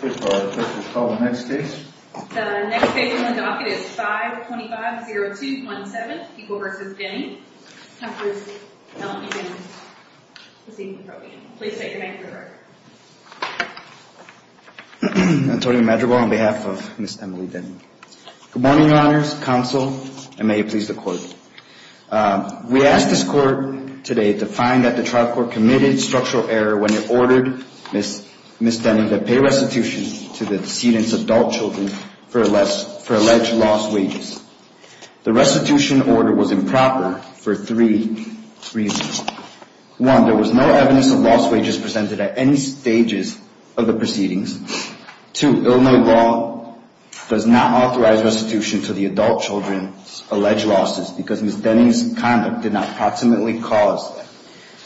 Good morning, Your Honors, Counsel, and may it please the Court. We ask this Court today to find that the trial court committed structural error when it ordered Ms. Denning to pay restitution to Ms. Denning. The restitution order was improper for three reasons. One, there was no evidence of lost wages presented at any stages of the proceedings. Two, Illinois law does not authorize restitution to the adult children's alleged losses because Ms. Denning's conduct did not proximately cause them.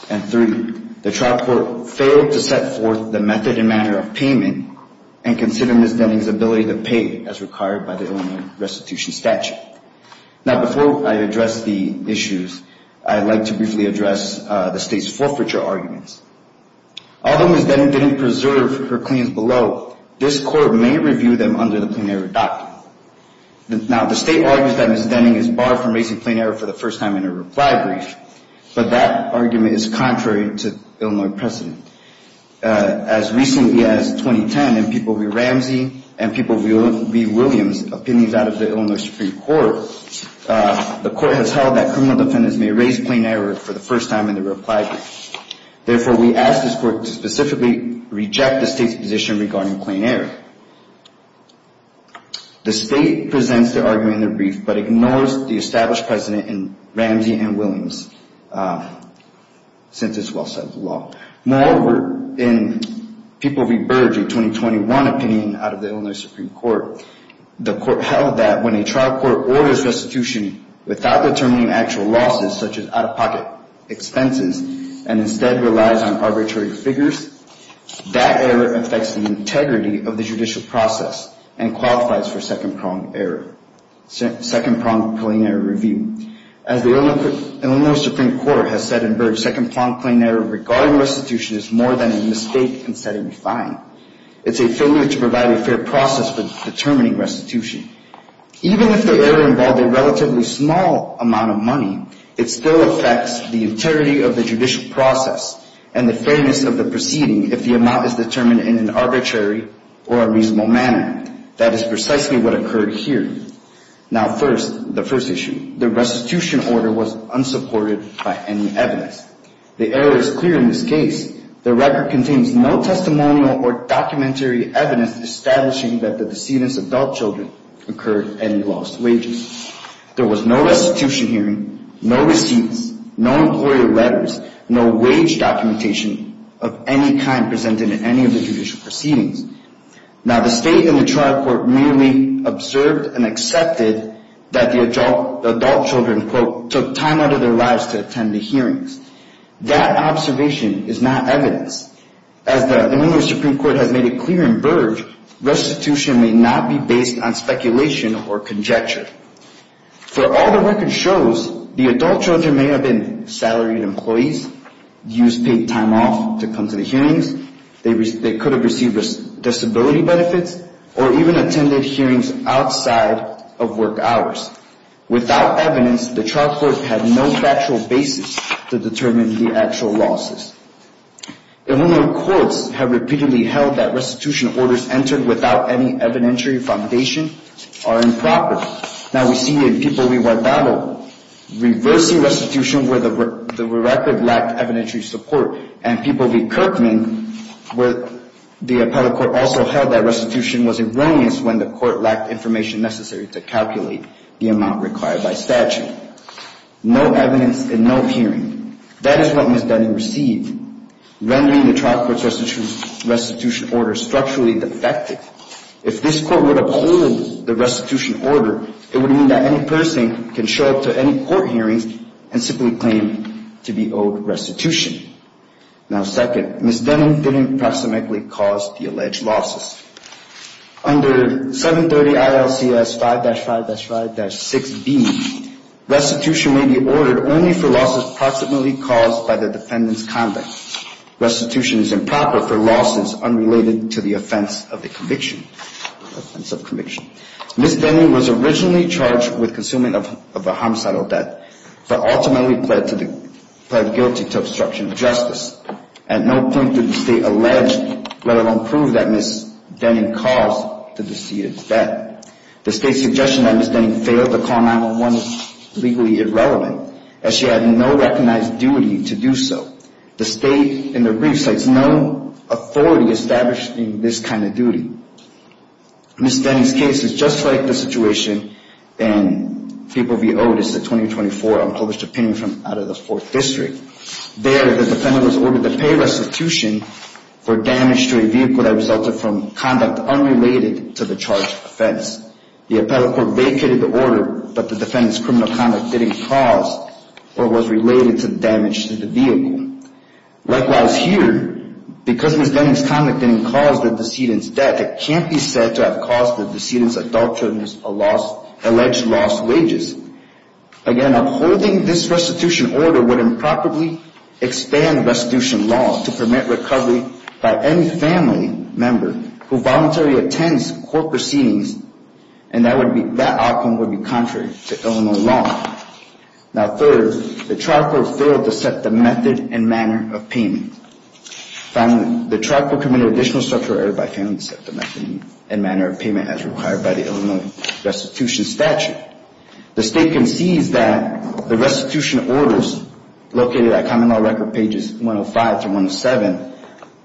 And three, the trial court failed to set forth the method and manner of payment and consider Ms. Denning's ability to pay as required by the Illinois restitution statute. Now, before I address the issues, I'd like to briefly address the State's forfeiture arguments. Although Ms. Denning didn't preserve her claims below, this Court may review them under the Plain Error Doctrine. Now, the State argues that Ms. Denning is barred from raising plain error for the first time in a reply brief, but that argument is contrary to Illinois precedent. As recently as 2010, in People v. Ramsey and People v. Williams' opinions out of the Illinois Supreme Court, the Court has held that criminal defendants may raise plain error for the first time in a reply brief. Therefore, we ask this Court to specifically reject the State's position regarding plain error. The State presents their argument in their brief, but ignores the established precedent in Ramsey and Williams, since it's well-set law. Moreover, in People v. Burge, a 2021 opinion out of the Illinois Supreme Court, the Court held that when a trial court orders restitution without determining actual losses, such as out-of-pocket expenses, and instead relies on arbitrary figures, that error affects the integrity of the judicial process and qualifies for second-prong plain error review. As the Illinois Supreme Court has said in Burge, second-prong plain error regarding restitution is more than a mistake instead of a fine. It's a failure to provide a fair process for determining restitution. Even if the error involved a relatively small amount of money, it still affects the integrity of the judicial process and the fairness of the proceeding if the amount is determined in an arbitrary or unreasonable manner. That is precisely what occurred here. Now first, the first issue, the restitution order was unsupported by any evidence. The error is clear in this case. The record contains no testimonial or documentary evidence establishing that the decedent's adult children incurred any lost wages. There was no restitution hearing, no receipts, no employer letters, no wage documentation of any kind presented in any of the judicial proceedings. Now the State and the trial court merely observed and accepted that the adult children, quote, took time out of their lives to attend the hearings. That observation is not evidence. As the Illinois Supreme Court has made it clear in Burge, restitution may not be based on speculation or conjecture. For all the record shows, the adult children may have been salaried employees, used paid time off to come to the hearings, they could have received disability benefits, or even attended hearings outside of work hours. Without evidence, the trial court had no factual basis to determine the actual losses. Illinois courts have repeatedly held that restitution orders entered without any evidentiary foundation are improper. Now we see in People v. Guardado, reversing restitution where the record lacked evidentiary support, and People v. Kirkman, where the appellate court also held that restitution was erroneous when the court lacked information necessary to calculate the amount required by statute. That is what Ms. Dunning received, rendering the trial court's restitution order structurally defective. If this court would uphold the restitution order, it would mean that any person can show up to any court hearings and simply claim to be owed restitution. Now second, Ms. Dunning didn't proximately cause the alleged losses. Under 730 ILCS 5-5-5-6B, restitution may be ordered only for losses proximately caused by the defendant's conduct. Restitution is improper for losses unrelated to the offense of conviction. Ms. Dunning was originally charged with consuming of a homicidal debt, but ultimately pled guilty to obstruction of justice. At no point did the State allege, let alone prove, that Ms. Dunning caused the deceit of debt. The State's suggestion that Ms. Dunning failed to call 9-1-1 is legally irrelevant, as she had no recognized duty to do so. The State in the brief cites no authority establishing this kind of duty. Ms. Dunning's case is just like the situation in People v. Otis, a 2024 unpublished opinion from out of the 4th District. There, the defendant was ordered to pay restitution for damage to a vehicle that resulted from conduct unrelated to the charged offense. The appellate court vacated the order, but the defendant's criminal conduct didn't cause or was related to damage to the vehicle. Likewise here, because Ms. Dunning's conduct didn't cause the decedent's debt, it can't be said to have caused the decedent's adultery or alleged lost wages. Again, upholding this restitution order would improperly expand restitution law to permit recovery by any family member who voluntarily attends court proceedings, and that outcome would be contrary to Illinois law. Now third, the trial court failed to set the method and manner of payment. Finally, the trial court committed additional structural error by failing to set the method and manner of payment as required by the Illinois restitution statute. The state concedes that the restitution orders located at Common Law Record pages 105-107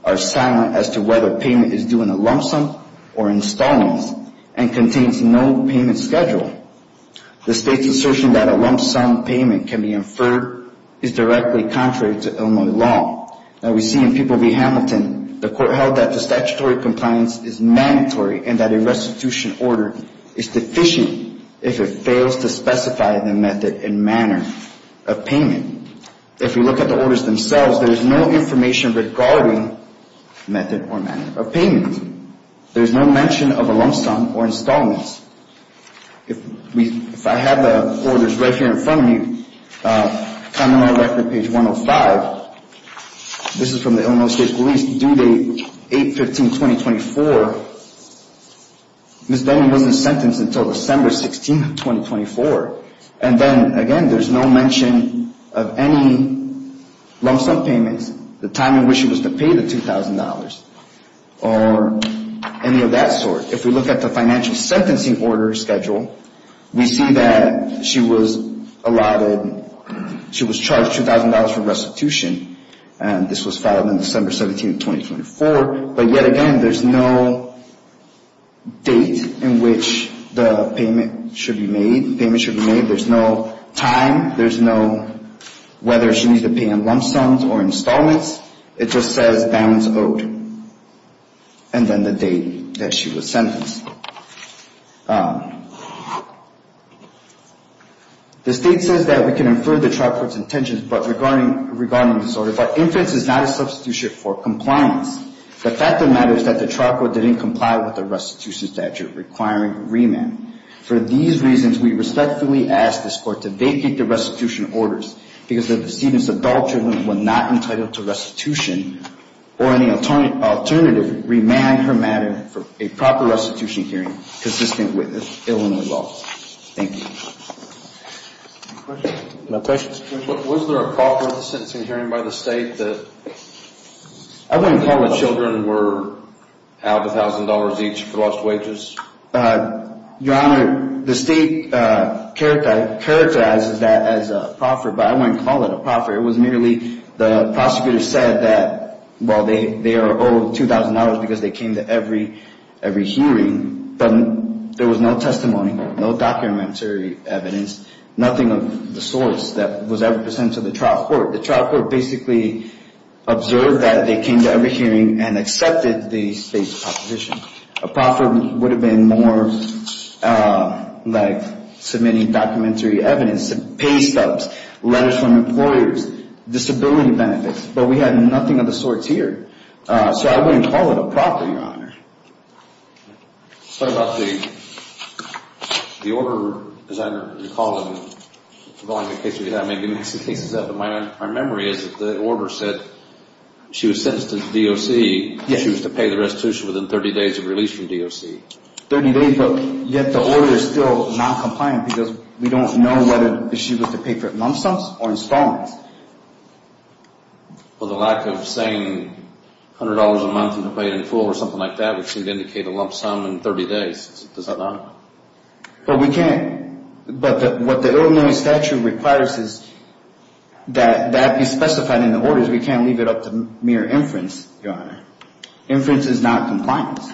are silent as to whether payment is due in a lump sum or installments and contains no payment schedule. The state's assertion that a lump sum payment can be inferred is directly contrary to Illinois law. Now we see in People v. Hamilton, the court held that the statutory compliance is mandatory and that a restitution order is deficient if it fails to specify the method and manner of payment. If we look at the orders themselves, there is no information regarding method or manner of payment. There is no mention of a lump sum or installments. If I have the orders right here in front of me, Common Law Record page 105, this is from the Illinois State Police, due date 8-15-2024, Ms. Denny wasn't sentenced until December 16, 2024. And then, again, there's no mention of any lump sum payments, the time in which she was to pay the $2,000 or any of that sort. If we look at the financial sentencing order schedule, we see that she was allotted, she was charged $2,000 for restitution and this was filed on December 17, 2024, but yet again, there's no date in which the payment should be made. There's no time. There's no whether she needs to pay in lump sums or installments. It just says balance owed and then the date that she was sentenced. The state says that we can infer the trial court's intentions, but regarding this order, if our inference is not a substitution for compliance, the fact of the matter is that the trial court didn't comply with the restitution statute requiring remand. For these reasons, we respectfully ask this court to vacate the restitution orders because the decedent's adult children were not entitled to restitution or any alternative remand, for a proper restitution hearing consistent with Illinois law. Thank you. Was there a proffer at the sentencing hearing by the state? I wouldn't call the children were out $1,000 each for lost wages. Your Honor, the state characterizes that as a proffer, but I wouldn't call it a proffer. It was merely the prosecutor said that, well, they are owed $2,000 because they came to every hearing, but there was no testimony, no documentary evidence, nothing of the sorts that was ever presented to the trial court. The trial court basically observed that they came to every hearing and accepted the state's proposition. A proffer would have been more like submitting documentary evidence, pay stubs, letters from employers, disability benefits, but we had nothing of the sorts here, so I wouldn't call it a proffer, Your Honor. What about the order, as I recall, involving the case we have? I mean, the case is up, but my memory is that the order said she was sentenced to DOC, she was to pay the restitution within 30 days of release from DOC. 30 days, but yet the order is still noncompliant because we don't know whether she was to pay for it in lump sums or installments. Well, the lack of saying $100 a month and to pay it in full or something like that would seem to indicate a lump sum in 30 days. Does that not? Well, we can't, but what the Illinois statute requires is that that be specified in the orders. We can't leave it up to mere inference, Your Honor. Inference is not compliance.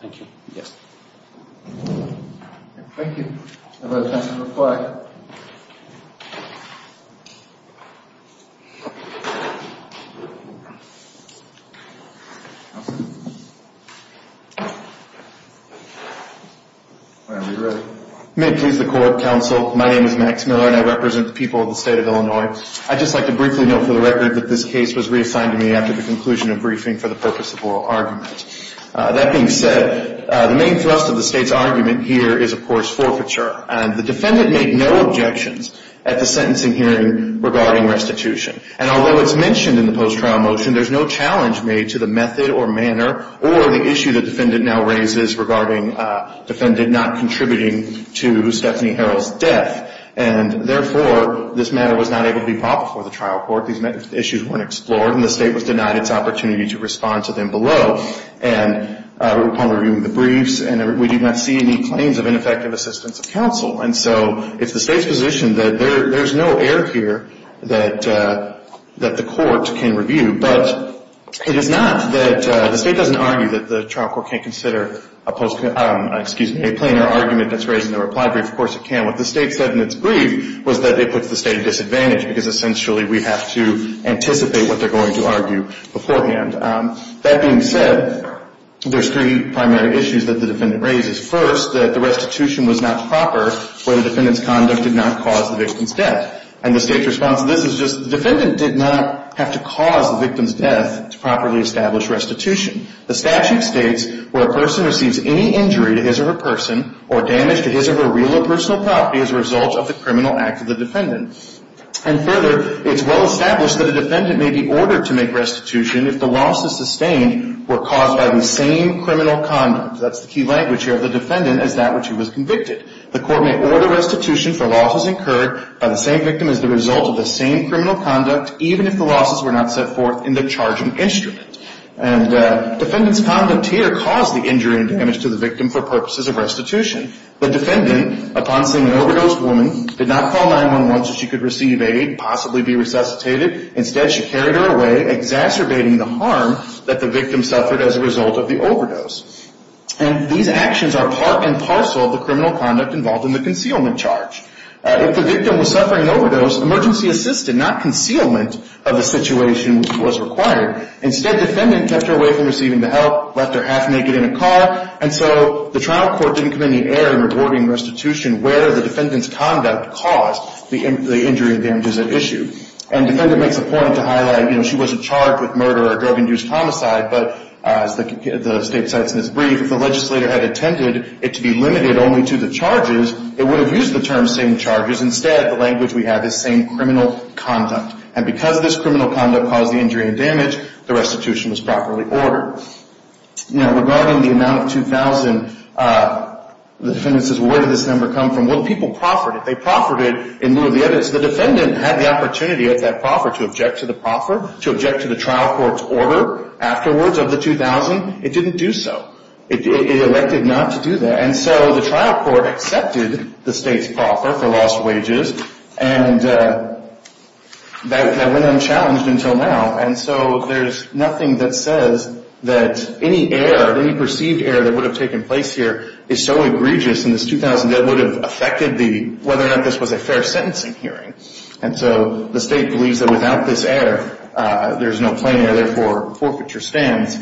Thank you. Yes. Thank you. Have a nice reply. Are we ready? May it please the court, counsel, my name is Max Miller and I represent the people of the state of Illinois. I'd just like to briefly note for the record that this case was reassigned to me after the conclusion of briefing for the purpose of oral argument. That being said, the main thrust of the state's argument here is, of course, forfeiture. And the defendant made no objections at the sentencing hearing regarding restitution. And although it's mentioned in the post-trial motion, there's no challenge made to the method or manner or the issue the defendant now raises regarding defendant not contributing to Stephanie Harrell's death. And therefore, this matter was not able to be brought before the trial court. These issues weren't explored and the state was denied its opportunity to respond to them below. And upon reviewing the briefs, we did not see any claims of ineffective assistance of counsel. And so it's the state's position that there's no error here that the court can review. But it is not that the state doesn't argue that the trial court can't consider a post-court, excuse me, a plainer argument that's raised in the reply brief. Of course it can. What the state said in its brief was that it puts the state at a disadvantage because essentially we have to anticipate what they're going to argue beforehand. That being said, there's three primary issues that the defendant raises. First, that the restitution was not proper when the defendant's conduct did not cause the victim's death. And the state's response to this is just the defendant did not have to cause the victim's death to properly establish restitution. The statute states where a person receives any injury to his or her person or damage to his or her real or personal property as a result of the criminal act of the defendant. And further, it's well established that a defendant may be ordered to make restitution if the losses sustained were caused by the same criminal conduct. That's the key language here of the defendant is that which he was convicted. The court may order restitution for losses incurred by the same victim as the result of the same criminal conduct, even if the losses were not set forth in the charging instrument. And defendant's conduct here caused the injury and damage to the victim for purposes of restitution. The defendant, upon seeing an overdosed woman, did not call 911 so she could receive aid and possibly be resuscitated. Instead, she carried her away, exacerbating the harm that the victim suffered as a result of the overdose. And these actions are part and parcel of the criminal conduct involved in the concealment charge. If the victim was suffering an overdose, emergency assistance, not concealment of the situation was required. Instead, defendant kept her away from receiving the help, left her half naked in a car, and so the trial court didn't come in the air in rewarding restitution where the defendant's conduct caused the injury and damages at issue. And defendant makes a point to highlight, you know, she wasn't charged with murder or drug-induced homicide, but as the State cites in this brief, if the legislator had intended it to be limited only to the charges, it would have used the term same charges. Instead, the language we have is same criminal conduct. And because this criminal conduct caused the injury and damage, the restitution was properly ordered. Now, regarding the amount of $2,000, the defendant says, well, where did this number come from? Well, the people proffered it. They proffered it in lieu of the evidence. The defendant had the opportunity at that proffer to object to the proffer, to object to the trial court's order afterwards of the $2,000. It didn't do so. It elected not to do that. And so the trial court accepted the State's proffer for lost wages. And that went unchallenged until now. And so there's nothing that says that any error, any perceived error that would have taken place here is so egregious in this $2,000 that it would have affected the whether or not this was a fair sentencing hearing. And so the State believes that without this error, there's no plain error. Therefore, forfeiture stands.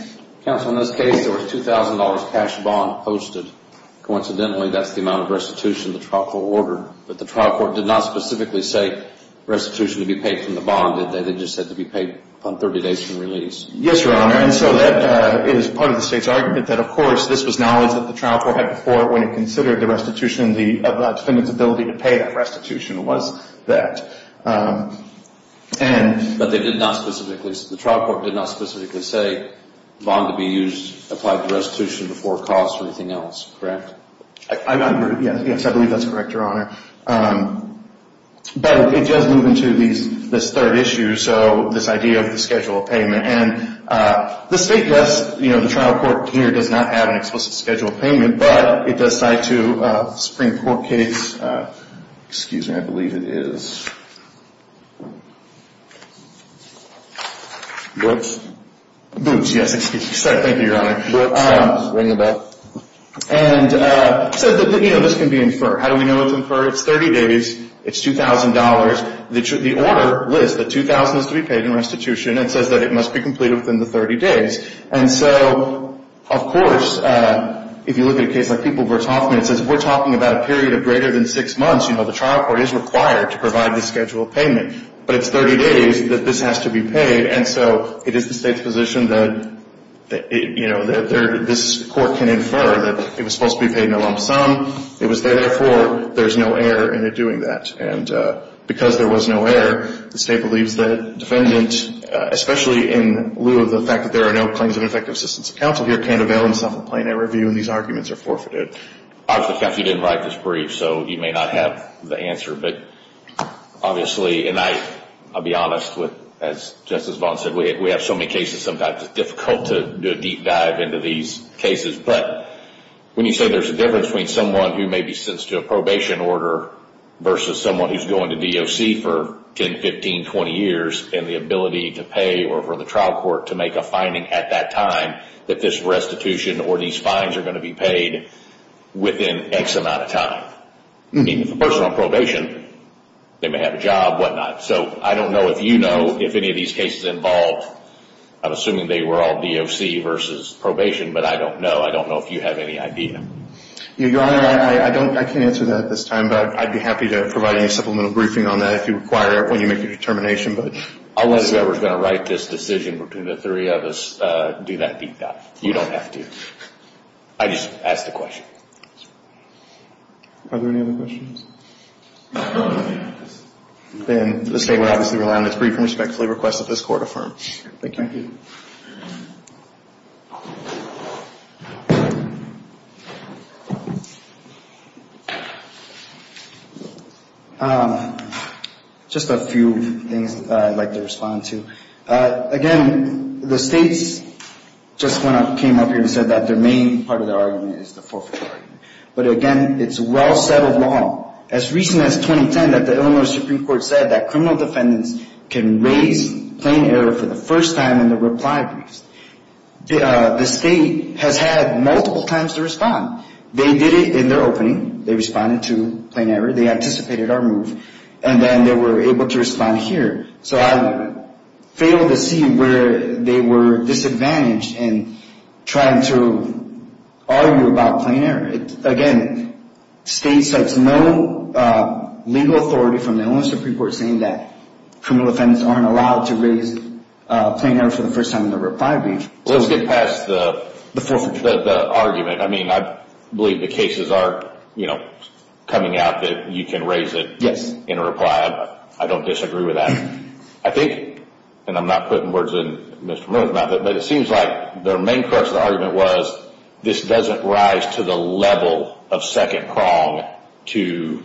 Counsel, in this case, there was a $2,000 cash bond posted. Coincidentally, that's the amount of restitution the trial court ordered. But the trial court did not specifically say restitution to be paid from the bond, did they? They just said to be paid upon 30 days from release. Yes, Your Honor. And so that is part of the State's argument that, of course, this was knowledge that the trial court had before when it considered the restitution, the defendant's ability to pay that restitution was that. But they did not specifically, the trial court did not specifically say bond to be used, applied to restitution before cost or anything else, correct? Yes, I believe that's correct, Your Honor. But it does move into this third issue, so this idea of the schedule of payment. And the State does, you know, the trial court here does not have an explicit schedule of payment, but it does cite to a Supreme Court case. Excuse me, I believe it is. Boots? Boots, yes. Thank you, Your Honor. Boots. Ring the bell. And so, you know, this can be inferred. How do we know it's inferred? It's 30 days. It's $2,000. The order lists that $2,000 has to be paid in restitution and says that it must be completed within the 30 days. And so, of course, if you look at a case like People v. Hoffman, it says we're talking about a period of greater than six months. You know, the trial court is required to provide the schedule of payment. But it's 30 days that this has to be paid. And so it is the State's position that, you know, this court can infer that it was supposed to be paid in a lump sum. It was there, therefore, there's no error in it doing that. And because there was no error, the State believes the defendant, especially in lieu of the fact that there are no claims of ineffective assistance of counsel here, can't avail himself of a plaintiff review, and these arguments are forfeited. Obviously, counsel, you didn't write this brief, so you may not have the answer. But obviously, and I'll be honest, as Justice Vaughn said, we have so many cases sometimes it's difficult to do a deep dive into these cases. But when you say there's a difference between someone who maybe sits to a probation order versus someone who's going to DOC for 10, 15, 20 years, and the ability to pay or for the trial court to make a finding at that time that this restitution or these fines are going to be paid within X amount of time. I mean, if the person's on probation, they may have a job, whatnot. So I don't know if you know if any of these cases involved, I'm assuming they were all DOC versus probation, but I don't know. I don't know if you have any idea. Your Honor, I can't answer that at this time, but I'd be happy to provide any supplemental briefing on that if you require it, when you make your determination. I'll let whoever's going to write this decision between the three of us do that deep dive. You don't have to. I just asked a question. Are there any other questions? Then the State will obviously rely on its brief and respectfully request that this Court affirm. Thank you. Thank you. Just a few things that I'd like to respond to. Again, the States just came up here and said that their main part of their argument is the forfeit argument. But, again, it's a well-settled law. As recent as 2010 that the Illinois Supreme Court said that criminal defendants can raise plain error for the first time in the reply briefs. The State has had multiple times to respond. They did it in their opening. They responded to plain error. They anticipated our move. And then they were able to respond here. So I failed to see where they were disadvantaged in trying to argue about plain error. Again, States have no legal authority from the Illinois Supreme Court saying that criminal defendants aren't allowed to raise plain error for the first time in the reply brief. Let's get past the argument. I mean, I believe the cases are coming out that you can raise it in a reply. I don't disagree with that. I think, and I'm not putting words in Mr. Murth's mouth, but it seems like their main crux of the argument was this doesn't rise to the level of second prong to,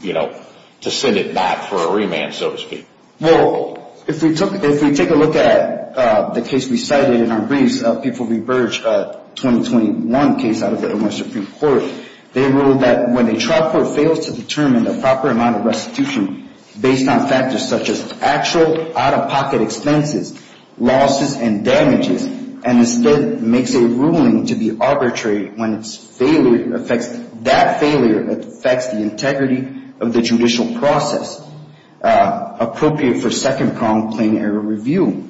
you know, to send it back for a remand, so to speak. Well, if we take a look at the case we cited in our briefs, the People v. Birch 2021 case out of the Illinois Supreme Court, they ruled that when a trial court fails to determine the proper amount of restitution based on factors such as actual out-of-pocket expenses, losses, and damages, and instead makes a ruling to be arbitrary when its failure affects, that failure affects the integrity of the judicial process appropriate for second prong plain error review.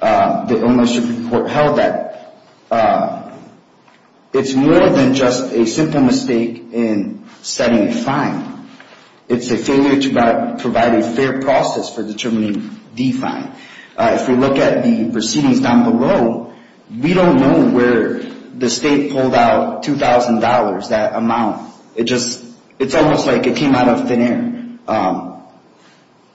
The Illinois Supreme Court held that it's more than just a simple mistake in setting a fine. It's a failure to provide a fair process for determining the fine. If we look at the proceedings down below, we don't know where the state pulled out $2,000, that amount. It just, it's almost like it came out of thin air.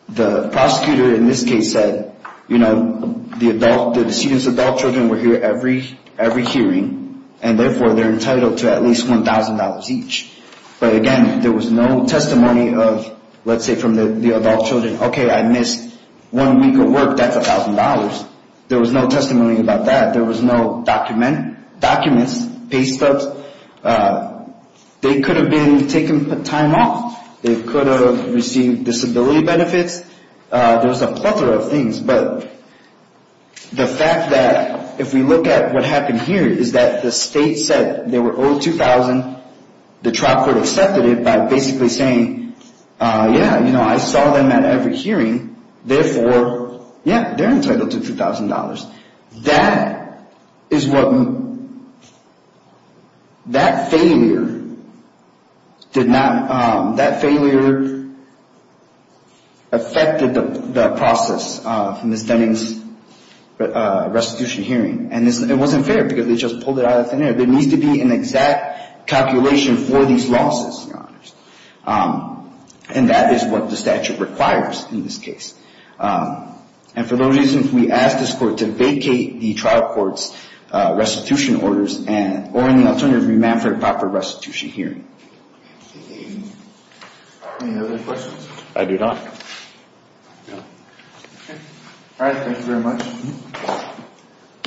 The prosecutor in this case said, you know, the adult, the decedent's adult children were here every hearing, and therefore they're entitled to at least $1,000 each. But again, there was no testimony of, let's say from the adult children, okay, I missed one week of work, that's $1,000. There was no testimony about that. There was no document, documents, pay stubs. They could have been taken time off. They could have received disability benefits. There was a plethora of things, but the fact that if we look at what happened here is that the state said they were owed $2,000. The trial court accepted it by basically saying, yeah, you know, I saw them at every hearing. Therefore, yeah, they're entitled to $2,000. That is what, that failure did not, that failure affected the process in Ms. Deming's restitution hearing, and it wasn't fair because they just pulled it out of thin air. There needs to be an exact calculation for these losses, and that is what the statute requires in this case. And for those reasons, we ask this court to vacate the trial court's restitution orders or, in the alternative, remand for a proper restitution hearing. Any other questions? I do not. No. Okay. All right, thank you very much.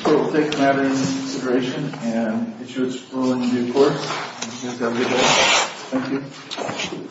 We'll take the matter into consideration and get you a ruling in due course. Thank you. Thank you.